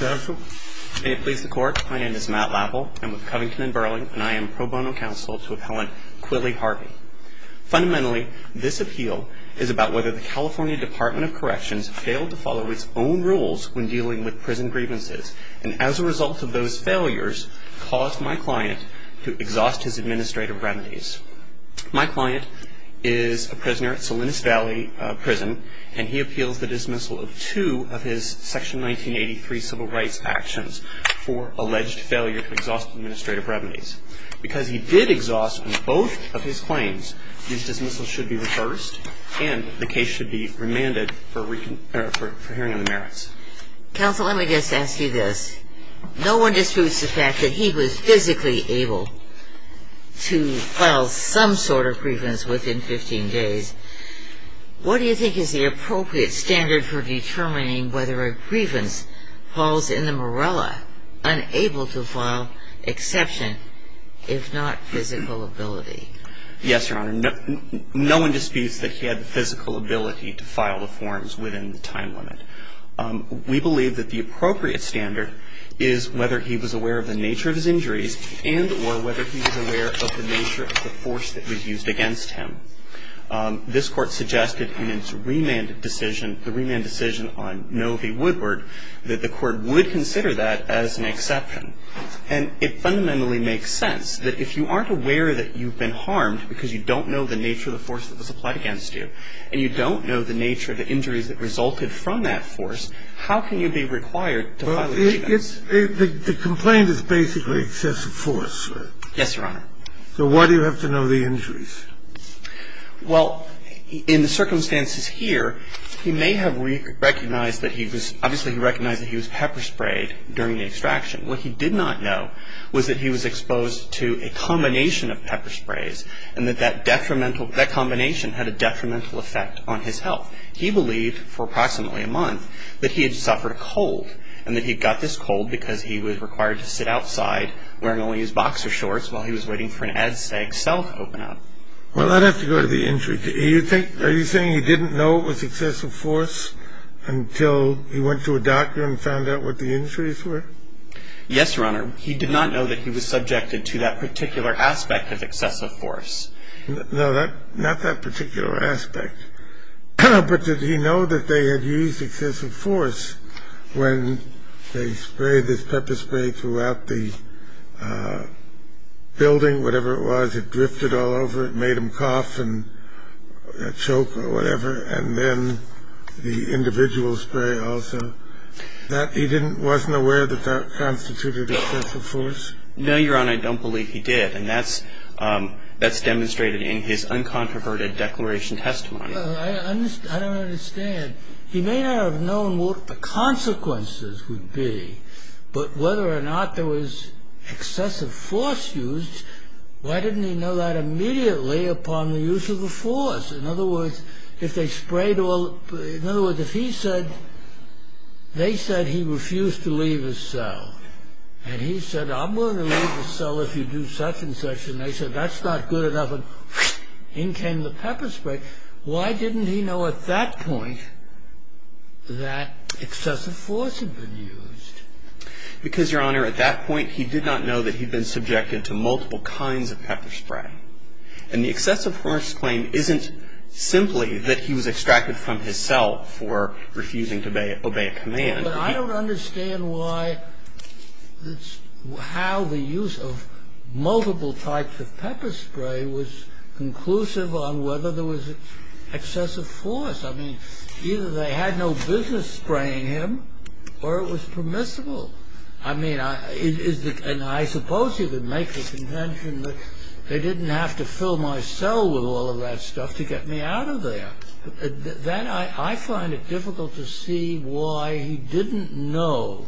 May it please the Court, my name is Matt Lapple, I'm with Covington & Burling, and I am pro bono counsel to Appellant Quillie Harvey. Fundamentally, this appeal is about whether the California Department of Corrections failed to follow its own rules when dealing with prison grievances, and as a result of those failures, caused my client to exhaust his administrative remedies. My client is a prisoner at Salinas Valley Prison, and he appeals the dismissal of two of his Section 1983 civil rights actions for alleged failure to exhaust administrative remedies. Because he did exhaust on both of his claims, his dismissal should be reversed, and the case should be remanded for hearing of the merits. Counsel, let me just ask you this. No one disputes the fact that he was physically able to file some sort of grievance within 15 days. What do you think is the appropriate standard for determining whether a grievance falls in the morella, unable to file, exception if not physical ability? Yes, Your Honor, no one disputes that he had the physical ability to file the forms within the time limit. We believe that the appropriate standard is whether he was aware of the nature of his injuries, and or whether he was aware of the nature of the force that was used against him. This Court suggested in its remand decision on Noe v. Woodward that the Court would consider that as an exception, and it fundamentally makes sense that if you aren't aware that you've been harmed because you don't know the nature of the force that was applied against you, and you don't know the nature of the injuries that resulted from that force, how can you be required to file a grievance? The complaint is basically excessive force. Yes, Your Honor. So why do you have to know the injuries? Well, in the circumstances here, he may have recognized that he was, obviously he recognized that he was pepper sprayed during the extraction. What he did not know was that he was exposed to a combination of pepper sprays, and that that detrimental, that combination had a detrimental effect on his health. He believed for approximately a month that he had suffered a cold, and that he got this cold because he was required to sit outside wearing only his boxer shorts while he was waiting for an ad-stack cell to open up. Well, I'd have to go to the injury. Do you think, are you saying he didn't know it was excessive force until he went to a doctor and found out what the injuries were? Yes, Your Honor. He did not know that he was subjected to that particular aspect of excessive force. No, that, not that particular aspect. But did he know that they had used excessive force when they sprayed this pepper spray throughout the building, whatever it was, it drifted all over, it made him cough and choke or whatever, and then the individual spray also, that he didn't, wasn't aware that that constituted excessive force? No, Your Honor, I don't believe he did. And that's demonstrated in his uncontroverted declaration testimony. I don't understand. He may not have known what the consequences would be, but whether or not there was excessive force used, why didn't he know that immediately upon the use of the force? In other words, if they sprayed all, in other words, if he said, they said he refused to leave his cell, and he said, I'm willing to leave the cell if you do such a thing, why didn't he know at that point that excessive force had been used? Because, Your Honor, at that point, he did not know that he'd been subjected to multiple kinds of pepper spray. And the excessive force claim isn't simply that he was extracted from his cell for refusing to obey a command. But I don't understand why, how the use of multiple types of pepper spray was conclusive on whether there was excessive force. I mean, either they had no business spraying him, or it was permissible. I mean, and I suppose he would make the contention that they didn't have to fill my cell with all of that stuff to get me out of there. Then I find it difficult to see why he didn't know.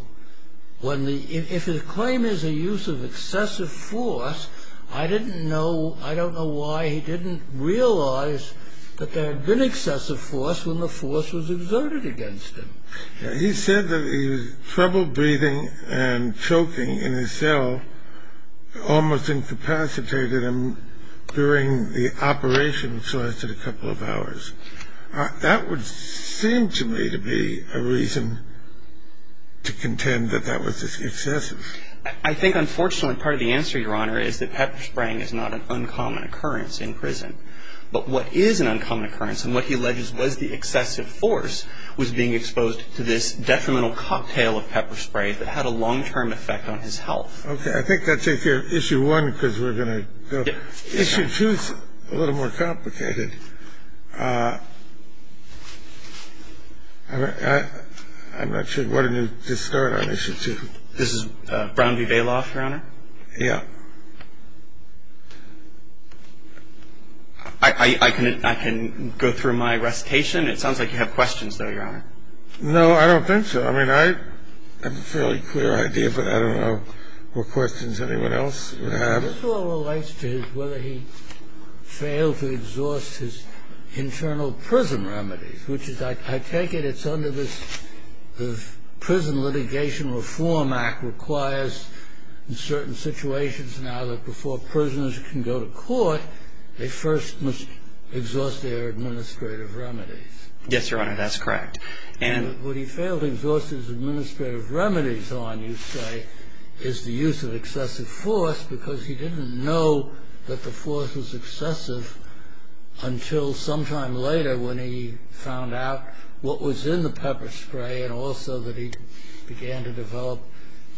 If the claim is a use of excessive force, I didn't know, I don't know why he didn't realize that there had been excessive force when the force was exerted against him. He said that he was trouble breathing and choking in his cell almost incapacitated him during the operation, so I said a couple of hours. That would seem to me to be a reason to contend that that was excessive. I think, unfortunately, part of the answer, Your Honor, is that pepper spraying is not an uncommon occurrence in prison. But what is an uncommon occurrence, and what he alleges was the excessive force, was being exposed to this detrimental cocktail of pepper spray that had a long-term effect on his health. Okay. I think I'll take your issue one, because we're going to go. Issue two is a little more complicated. I'm not sure. Why don't you just start on issue two? This is Brown v. Bailoff, Your Honor? Yeah. I can go through my recitation. It sounds like you have questions, though, Your Honor. No, I don't think so. I mean, I have a fairly clear idea, but I don't know what questions anyone else would have. This all relates to whether he failed to exhaust his internal prison remedies, which is, I take it it's under this Prison Litigation Reform Act requires, in certain situations now, that before prisoners can go to court, they first must exhaust their administrative remedies. Yes, Your Honor, that's correct. And what he failed to exhaust his administrative remedies on, you say, is the use of excessive force, because he didn't know that the force was excessive until sometime later when he found out what was in the pepper spray and also that he began to develop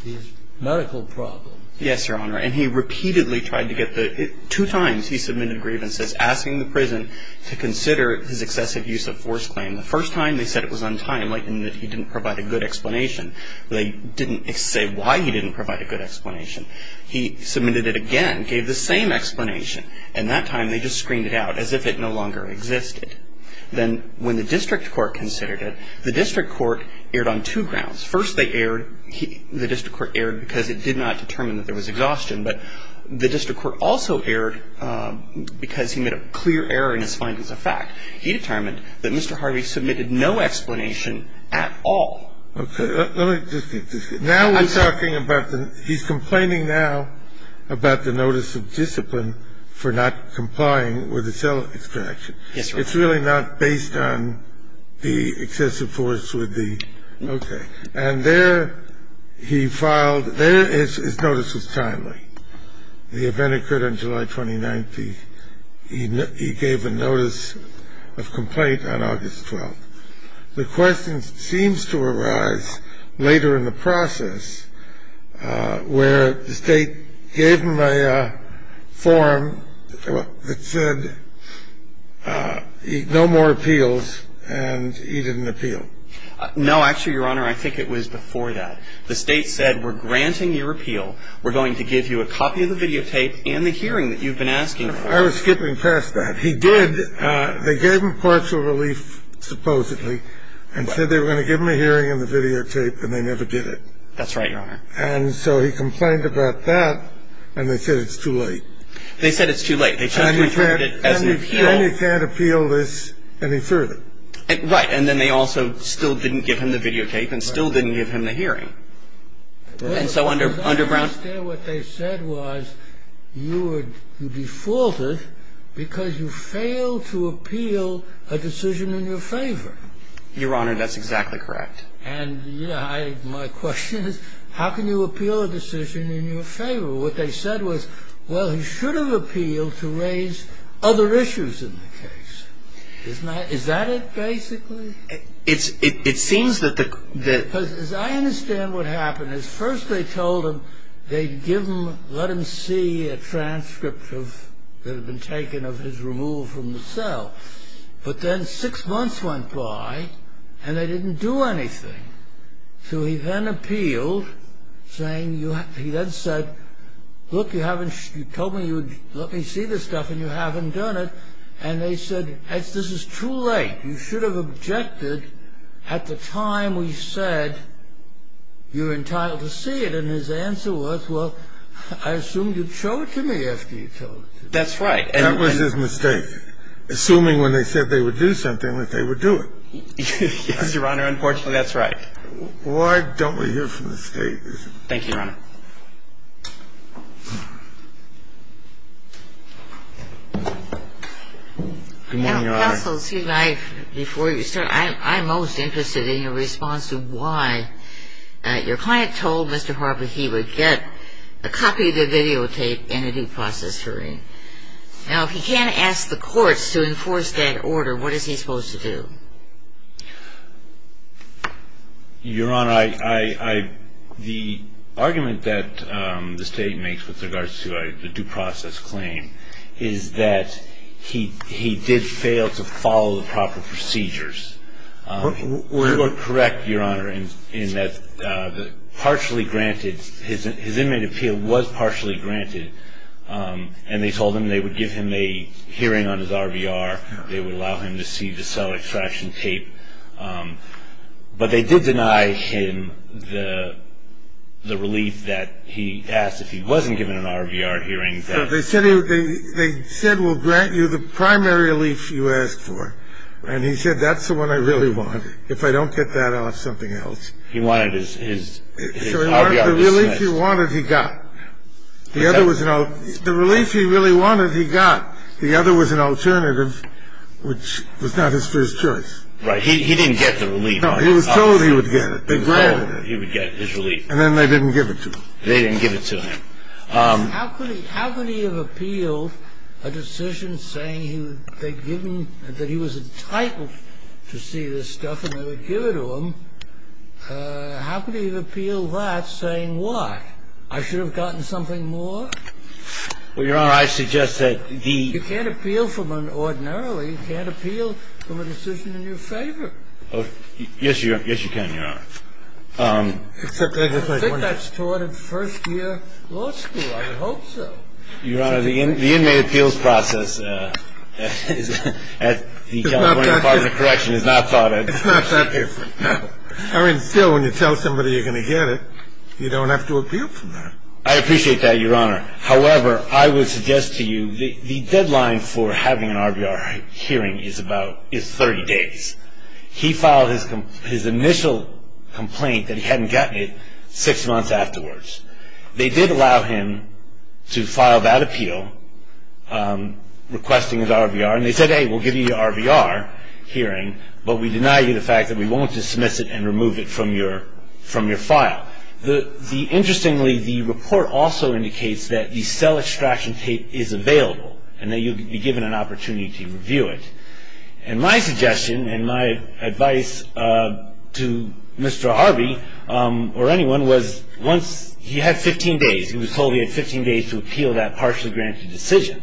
these medical problems. Yes, Your Honor, and he repeatedly tried to get the – two times he submitted grievances asking the prison to consider his excessive use of force claim. The first time they said it was untimely and that he didn't provide a good explanation. They didn't say why he didn't provide a good explanation. He submitted it again, gave the same explanation, and that time they just screened it out as if it no longer existed. Then when the district court considered it, the district court erred on two grounds. First, they erred – the district court erred because it did not determine that there was exhaustion, but the district court also erred because he made a clear error in his findings of fact. He determined that Mr. Harvey submitted no explanation at all. Okay. Let me just get this. Now we're talking about the – he's complaining now about the notice of discipline for not complying with the cell extraction. Yes, Your Honor. It's really not based on the excessive force with the – okay. And there he filed – there his notice was timely. The event occurred on July 29th. He gave a notice of complaint on August 12th. The question seems to arise later in the process where the State gave him a form that said no more appeals and he didn't appeal. No, actually, Your Honor, I think it was before that. The State said we're granting your appeal. We're going to give you a copy of the videotape and the hearing that you've been asking for. I was skipping past that. He did. They gave him partial relief, supposedly, and said they were going to give him a hearing on the videotape and they never did it. That's right, Your Honor. And so he complained about that and they said it's too late. They said it's too late. And he can't appeal this any further. Right. And then they also still didn't give him the videotape and still didn't give him the hearing. I understand what they said was you defaulted because you failed to appeal a decision in your favor. Your Honor, that's exactly correct. And my question is how can you appeal a decision in your favor? What they said was, well, he should have appealed to raise other issues in the case. Isn't that it basically? It seems that the I understand what happened. First they told him they'd let him see a transcript that had been taken of his removal from the cell. But then six months went by and they didn't do anything. So he then appealed saying, he then said, look, you told me you would let me see this stuff and you haven't done it. And they said, this is too late. You should have objected at the time we said you're entitled to see it. And his answer was, well, I assumed you'd show it to me after you told it to me. That's right. That was his mistake. Assuming when they said they would do something that they would do it. Yes, Your Honor. Unfortunately, that's right. Why don't we hear from the state? Thank you, Your Honor. Good morning, Your Honor. Counsel, before you start, I'm most interested in your response to why your client told Mr. Harper he would get a copy of the videotape in a due process hearing. Now, if he can't ask the courts to enforce that order, what is he supposed to do? Your Honor, the argument that the state makes with regards to the due process claim is that he did fail to follow the proper procedures. You are correct, Your Honor, in that partially granted, his inmate appeal was partially granted. And they told him they would give him a hearing on his RVR. They would allow him to see the cell extraction tape. But they did deny him the relief that he asked if he wasn't given an RVR hearing. They said, well, grant you the primary relief you asked for. And he said, that's the one I really want. If I don't get that off, something else. He wanted his RVR dismissed. The relief he wanted, he got. The other was an alternative. The relief he really wanted, he got. The other was an alternative, which was not his first choice. Right. He didn't get the relief. No, he was told he would get it. He was told he would get his relief. And then they didn't give it to him. They didn't give it to him. How could he have appealed a decision saying that he was entitled to see this stuff and they would give it to him? How could he have appealed that saying why? I should have gotten something more? Well, Your Honor, I suggest that the- You can't appeal from an ordinarily. You can't appeal from a decision in your favor. Yes, you can, Your Honor. Except I don't think that's taught in first-year law school. I would hope so. Your Honor, the inmate appeals process at the California Department of Corrections is not taught at- It's not that different. No. I mean, still, when you tell somebody you're going to get it, you don't have to appeal for that. I appreciate that, Your Honor. However, I would suggest to you the deadline for having an RBR hearing is 30 days. He filed his initial complaint that he hadn't gotten it six months afterwards. They did allow him to file that appeal, requesting his RBR. And they said, hey, we'll give you your RBR hearing, but we deny you the fact that we won't dismiss it and remove it from your file. Now, interestingly, the report also indicates that the cell extraction tape is available and that you'll be given an opportunity to review it. And my suggestion and my advice to Mr. Harvey or anyone was once- He had 15 days. He was told he had 15 days to appeal that partially granted decision.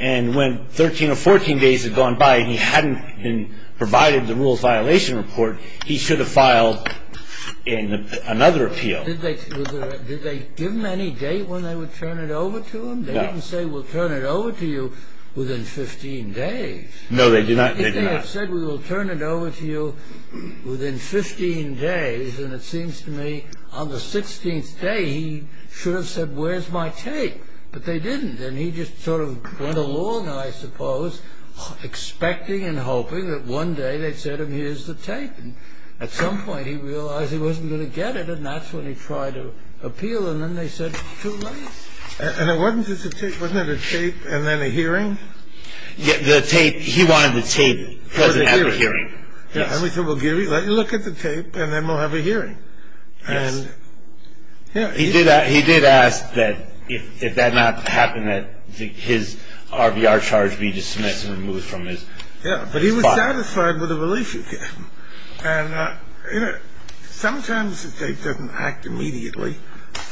And when 13 or 14 days had gone by and he hadn't been provided the rules violation report, he should have filed another appeal. Did they give him any date when they would turn it over to him? No. They didn't say, we'll turn it over to you within 15 days. No, they did not. They said, we will turn it over to you within 15 days. And it seems to me on the 16th day, he should have said, where's my tape? But they didn't. And he just sort of went along, I suppose, expecting and hoping that one day they'd say to him, here's the tape. And at some point, he realized he wasn't going to get it. And that's when he tried to appeal. And then they said, too late. And it wasn't just a tape. Wasn't it a tape and then a hearing? The tape, he wanted the tape present at the hearing. And we said, well, let me look at the tape, and then we'll have a hearing. And, yeah. He did ask that if that did not happen, that his RBR charge be dismissed and removed from his file. Yeah, but he was satisfied with the relief you gave him. And, you know, sometimes the state doesn't act immediately.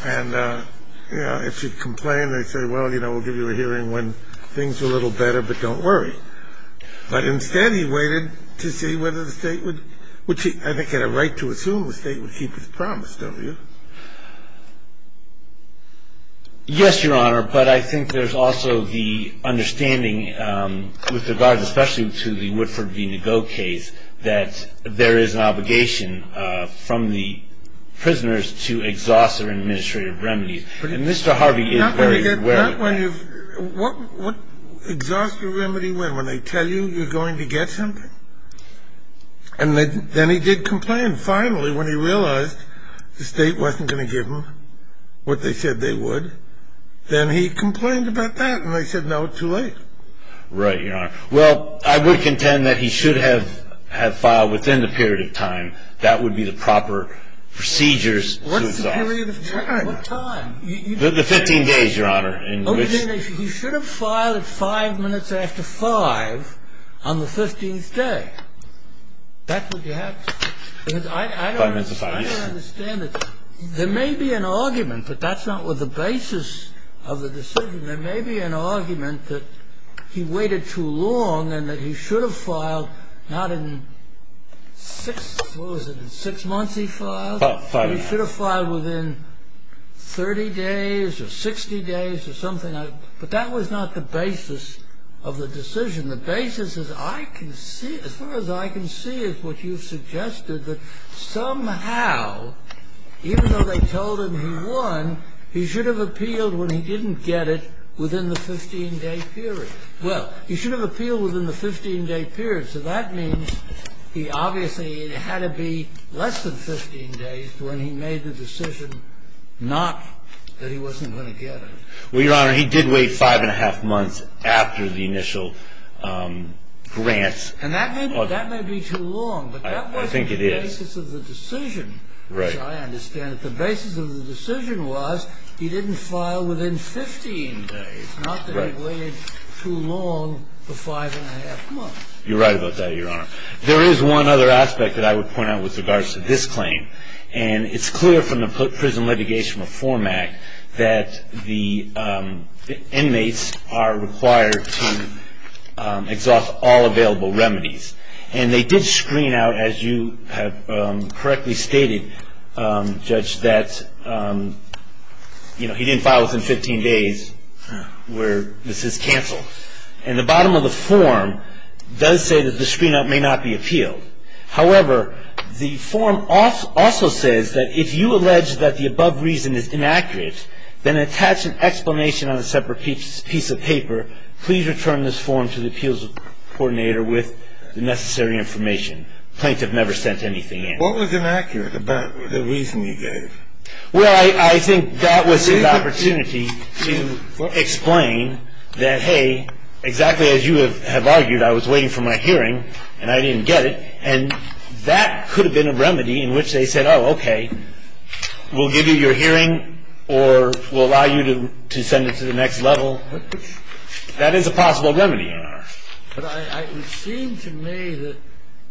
And, you know, if you complain, they say, well, you know, we'll give you a hearing when things are a little better, but don't worry. But instead, he waited to see whether the state would keep his promise, don't you? Yes, Your Honor. But I think there's also the understanding with regard, especially to the Woodford v. Nego case, that there is an obligation from the prisoners to exhaust their administrative remedies. And Mr. Harvey is very aware of that. Not when you've ‑‑ what ‑‑ exhaust your remedy when? When they tell you you're going to get something? And then he did complain, finally, when he realized the state wasn't going to give him what they said they would. Then he complained about that. And they said, no, too late. Right, Your Honor. Well, I would contend that he should have filed within the period of time. That would be the proper procedures to exhaust. What's the period of time? What time? The 15 days, Your Honor. He should have filed it five minutes after 5 on the 15th day. That's what you have to do. Five minutes after 5, yes. There may be an argument, but that's not the basis of the decision. There may be an argument that he waited too long and that he should have filed not in six ‑‑ what was it, six months he filed? Five. He should have filed within 30 days or 60 days or something like that. But that was not the basis of the decision. The basis, as far as I can see, is what you suggested, that somehow, even though they told him he won, he should have appealed when he didn't get it within the 15‑day period. Well, he should have appealed within the 15‑day period, so that means he obviously had to be less than 15 days when he made the decision not that he wasn't going to get it. Well, Your Honor, he did wait five and a half months after the initial grants. And that may be too long, but that wasn't the basis of the decision, which I understand that the basis of the decision was he didn't file within 15 days, not that he waited too long for five and a half months. You're right about that, Your Honor. There is one other aspect that I would point out with regards to this claim, and it's clear from the Prison Litigation Reform Act that the inmates are required to exhaust all available remedies. And they did screen out, as you have correctly stated, Judge, that he didn't file within 15 days where this is canceled. And the bottom of the form does say that the screen out may not be appealed. However, the form also says that if you allege that the above reason is inaccurate, then attach an explanation on a separate piece of paper, please return this form to the appeals coordinator with the necessary information. The plaintiff never sent anything in. What was inaccurate about the reason you gave? Well, I think that was his opportunity to explain that, hey, exactly as you have argued, I was waiting for my hearing and I didn't get it. And that could have been a remedy in which they said, oh, okay, we'll give you your hearing or we'll allow you to send it to the next level. That is a possible remedy, Your Honor. But it seemed to me that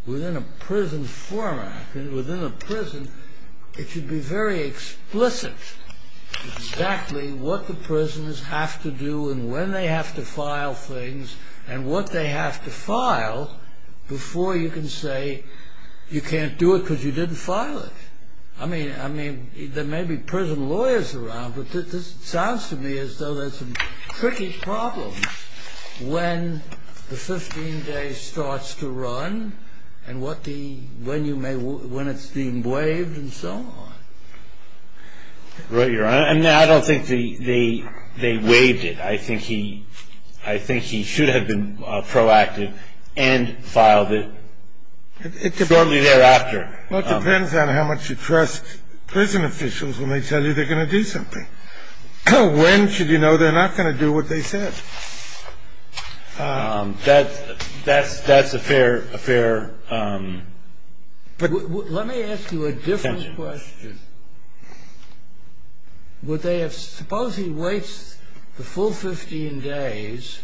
within a prison format, within a prison, it should be very explicit exactly what the prisoners have to do and when they have to file things and what they have to file before you can say you can't do it because you didn't file it. I mean, there may be prison lawyers around, but this sounds to me as though there's some tricky problems when the 15 days starts to run and when it's being waived and so on. Right, Your Honor. No, I don't think they waived it. I think he should have been proactive and filed it shortly thereafter. Well, it depends on how much you trust prison officials when they tell you they're going to do something. When should you know they're not going to do what they said? That's a fair assumption. Let me ask you a different question. Suppose he waits the full 15 days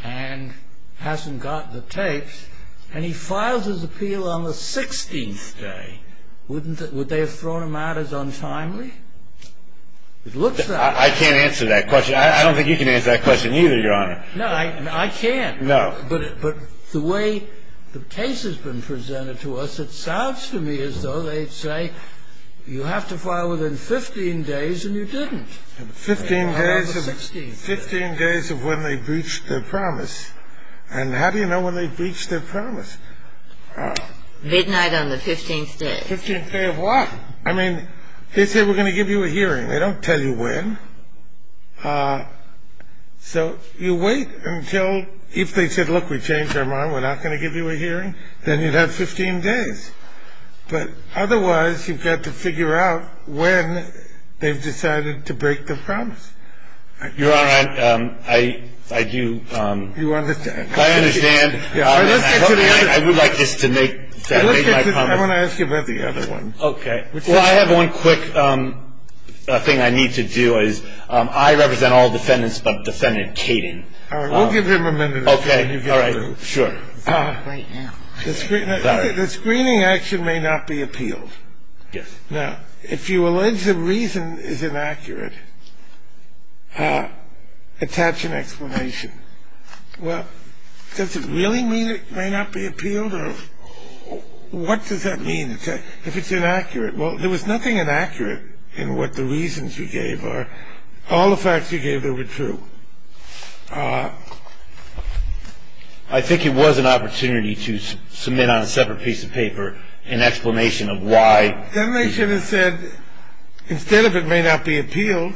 and hasn't got the tapes and he files his appeal on the 16th day. Would they have thrown him out as untimely? It looks that way. I can't answer that question. I don't think you can answer that question either, Your Honor. No, I can't. No. But the way the case has been presented to us, it sounds to me as though they'd say, you have to file within 15 days and you didn't. 15 days of when they breached their promise. And how do you know when they breached their promise? Midnight on the 15th day. 15th day of what? I mean, they say we're going to give you a hearing. They don't tell you when. So you wait until if they said, look, we changed our mind, we're not going to give you a hearing, then you'd have 15 days. But otherwise, you've got to figure out when they've decided to break their promise. Your Honor, I do. You understand. I understand. I would like just to make my comment. I want to ask you about the other one. Okay. Well, I have one quick thing I need to do is I represent all defendants but defendant Kading. All right. We'll give him a minute. Okay. All right. Sure. The screening action may not be appealed. Yes. Now, if you allege the reason is inaccurate, attach an explanation. Well, does it really mean it may not be appealed or what does that mean? If it's inaccurate. Well, there was nothing inaccurate in what the reasons you gave are. All the facts you gave that were true. I think it was an opportunity to submit on a separate piece of paper an explanation of why. Then they should have said instead of it may not be appealed,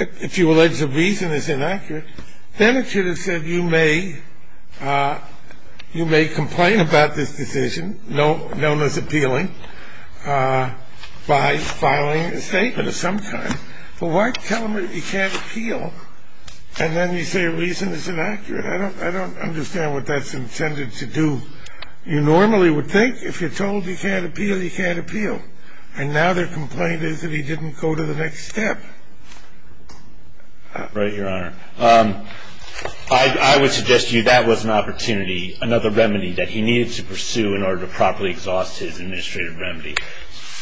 if you allege the reason is inaccurate, then it should have said you may complain about this decision, known as appealing, by filing a statement of some kind. But why tell them that you can't appeal and then you say a reason is inaccurate? I don't understand what that's intended to do. You normally would think if you're told you can't appeal, you can't appeal. And now their complaint is that he didn't go to the next step. Right, Your Honor. I would suggest to you that was an opportunity, another remedy that he needed to pursue in order to properly exhaust his administrative remedy.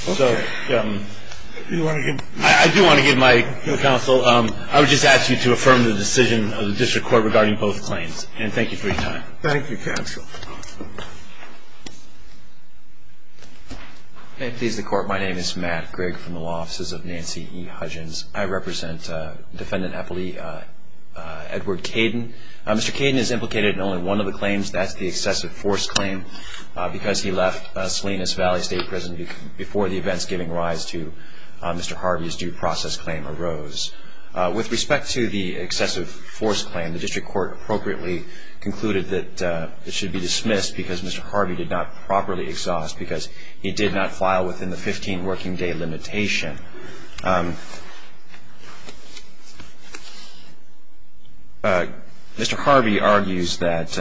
Okay. I do want to give my counsel, I would just ask you to affirm the decision of the District Court regarding both claims. And thank you for your time. Thank you, counsel. May it please the Court. My name is Matt Grigg from the Law Offices of Nancy E. Hudgens. I represent Defendant Eppley Edward Caden. Mr. Caden is implicated in only one of the claims. That's the excessive force claim because he left Salinas Valley State Prison before the events giving rise to Mr. Harvey's due process claim arose. With respect to the excessive force claim, the District Court appropriately concluded that it should be dismissed because Mr. Harvey did not properly exhaust, because he did not file within the 15-working-day limitation. Mr. Harvey argues that,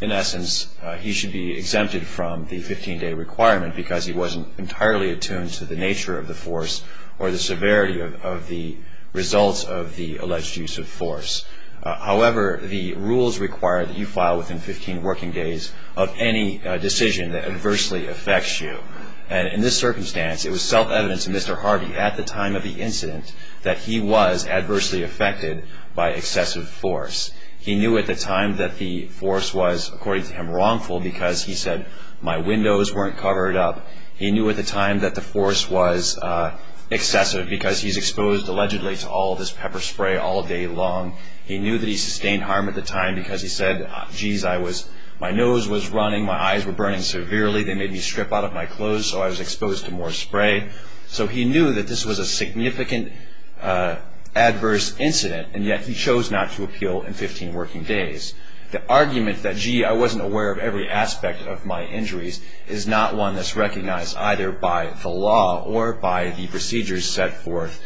in essence, he should be exempted from the 15-day requirement because he wasn't entirely attuned to the nature of the force or the severity of the results of the alleged use of force. However, the rules require that you file within 15 working days of any decision that adversely affects you. And in this circumstance, it was self-evident to Mr. Harvey at the time of the incident that he was adversely affected by excessive force. He knew at the time that the force was, according to him, wrongful because he said, my windows weren't covered up. He knew at the time that the force was excessive because he's exposed, allegedly, to all this pepper spray all day long. He knew that he sustained harm at the time because he said, geez, my nose was running, my eyes were burning severely, they made me strip out of my clothes, so I was exposed to more spray. So he knew that this was a significant adverse incident, and yet he chose not to appeal in 15 working days. The argument that, gee, I wasn't aware of every aspect of my injuries is not one that's recognized either by the law or by the procedures set forth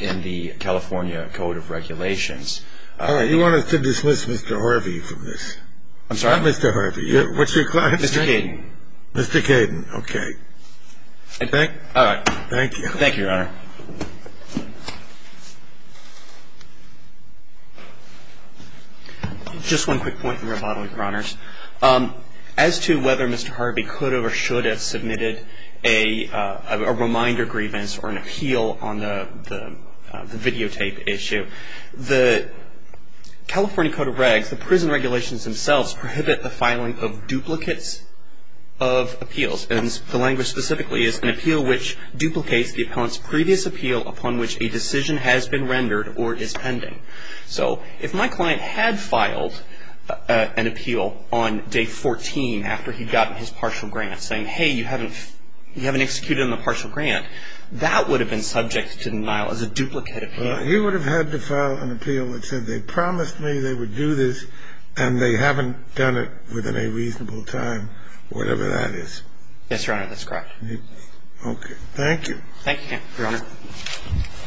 in the California Code of Regulations. All right. You want us to dismiss Mr. Harvey from this? I'm sorry? Not Mr. Harvey. What's your client's name? Mr. Kayden. Mr. Kayden. Okay. All right. Thank you. Thank you, Your Honor. Just one quick point, Your Honor. As to whether Mr. Harvey could or should have submitted a reminder grievance or an appeal on the videotape issue, the California Code of Regs, the prison regulations themselves, prohibit the filing of duplicates of appeals. And the language specifically is, an appeal which duplicates the opponent's previous appeal upon which a decision has been rendered or is pending. So if my client had filed an appeal on day 14 after he'd gotten his partial grant saying, hey, you haven't executed on the partial grant, that would have been subject to denial as a duplicate appeal. Well, he would have had to file an appeal that said they promised me they would do this and they haven't done it within a reasonable time, whatever that is. Yes, Your Honor. That's correct. Okay. Thank you. Thank you, Your Honor.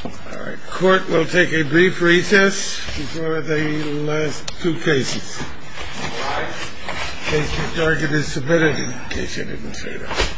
All right. Court will take a brief recess before the last two cases. All rise. Case to target is submitted, in case you didn't say that.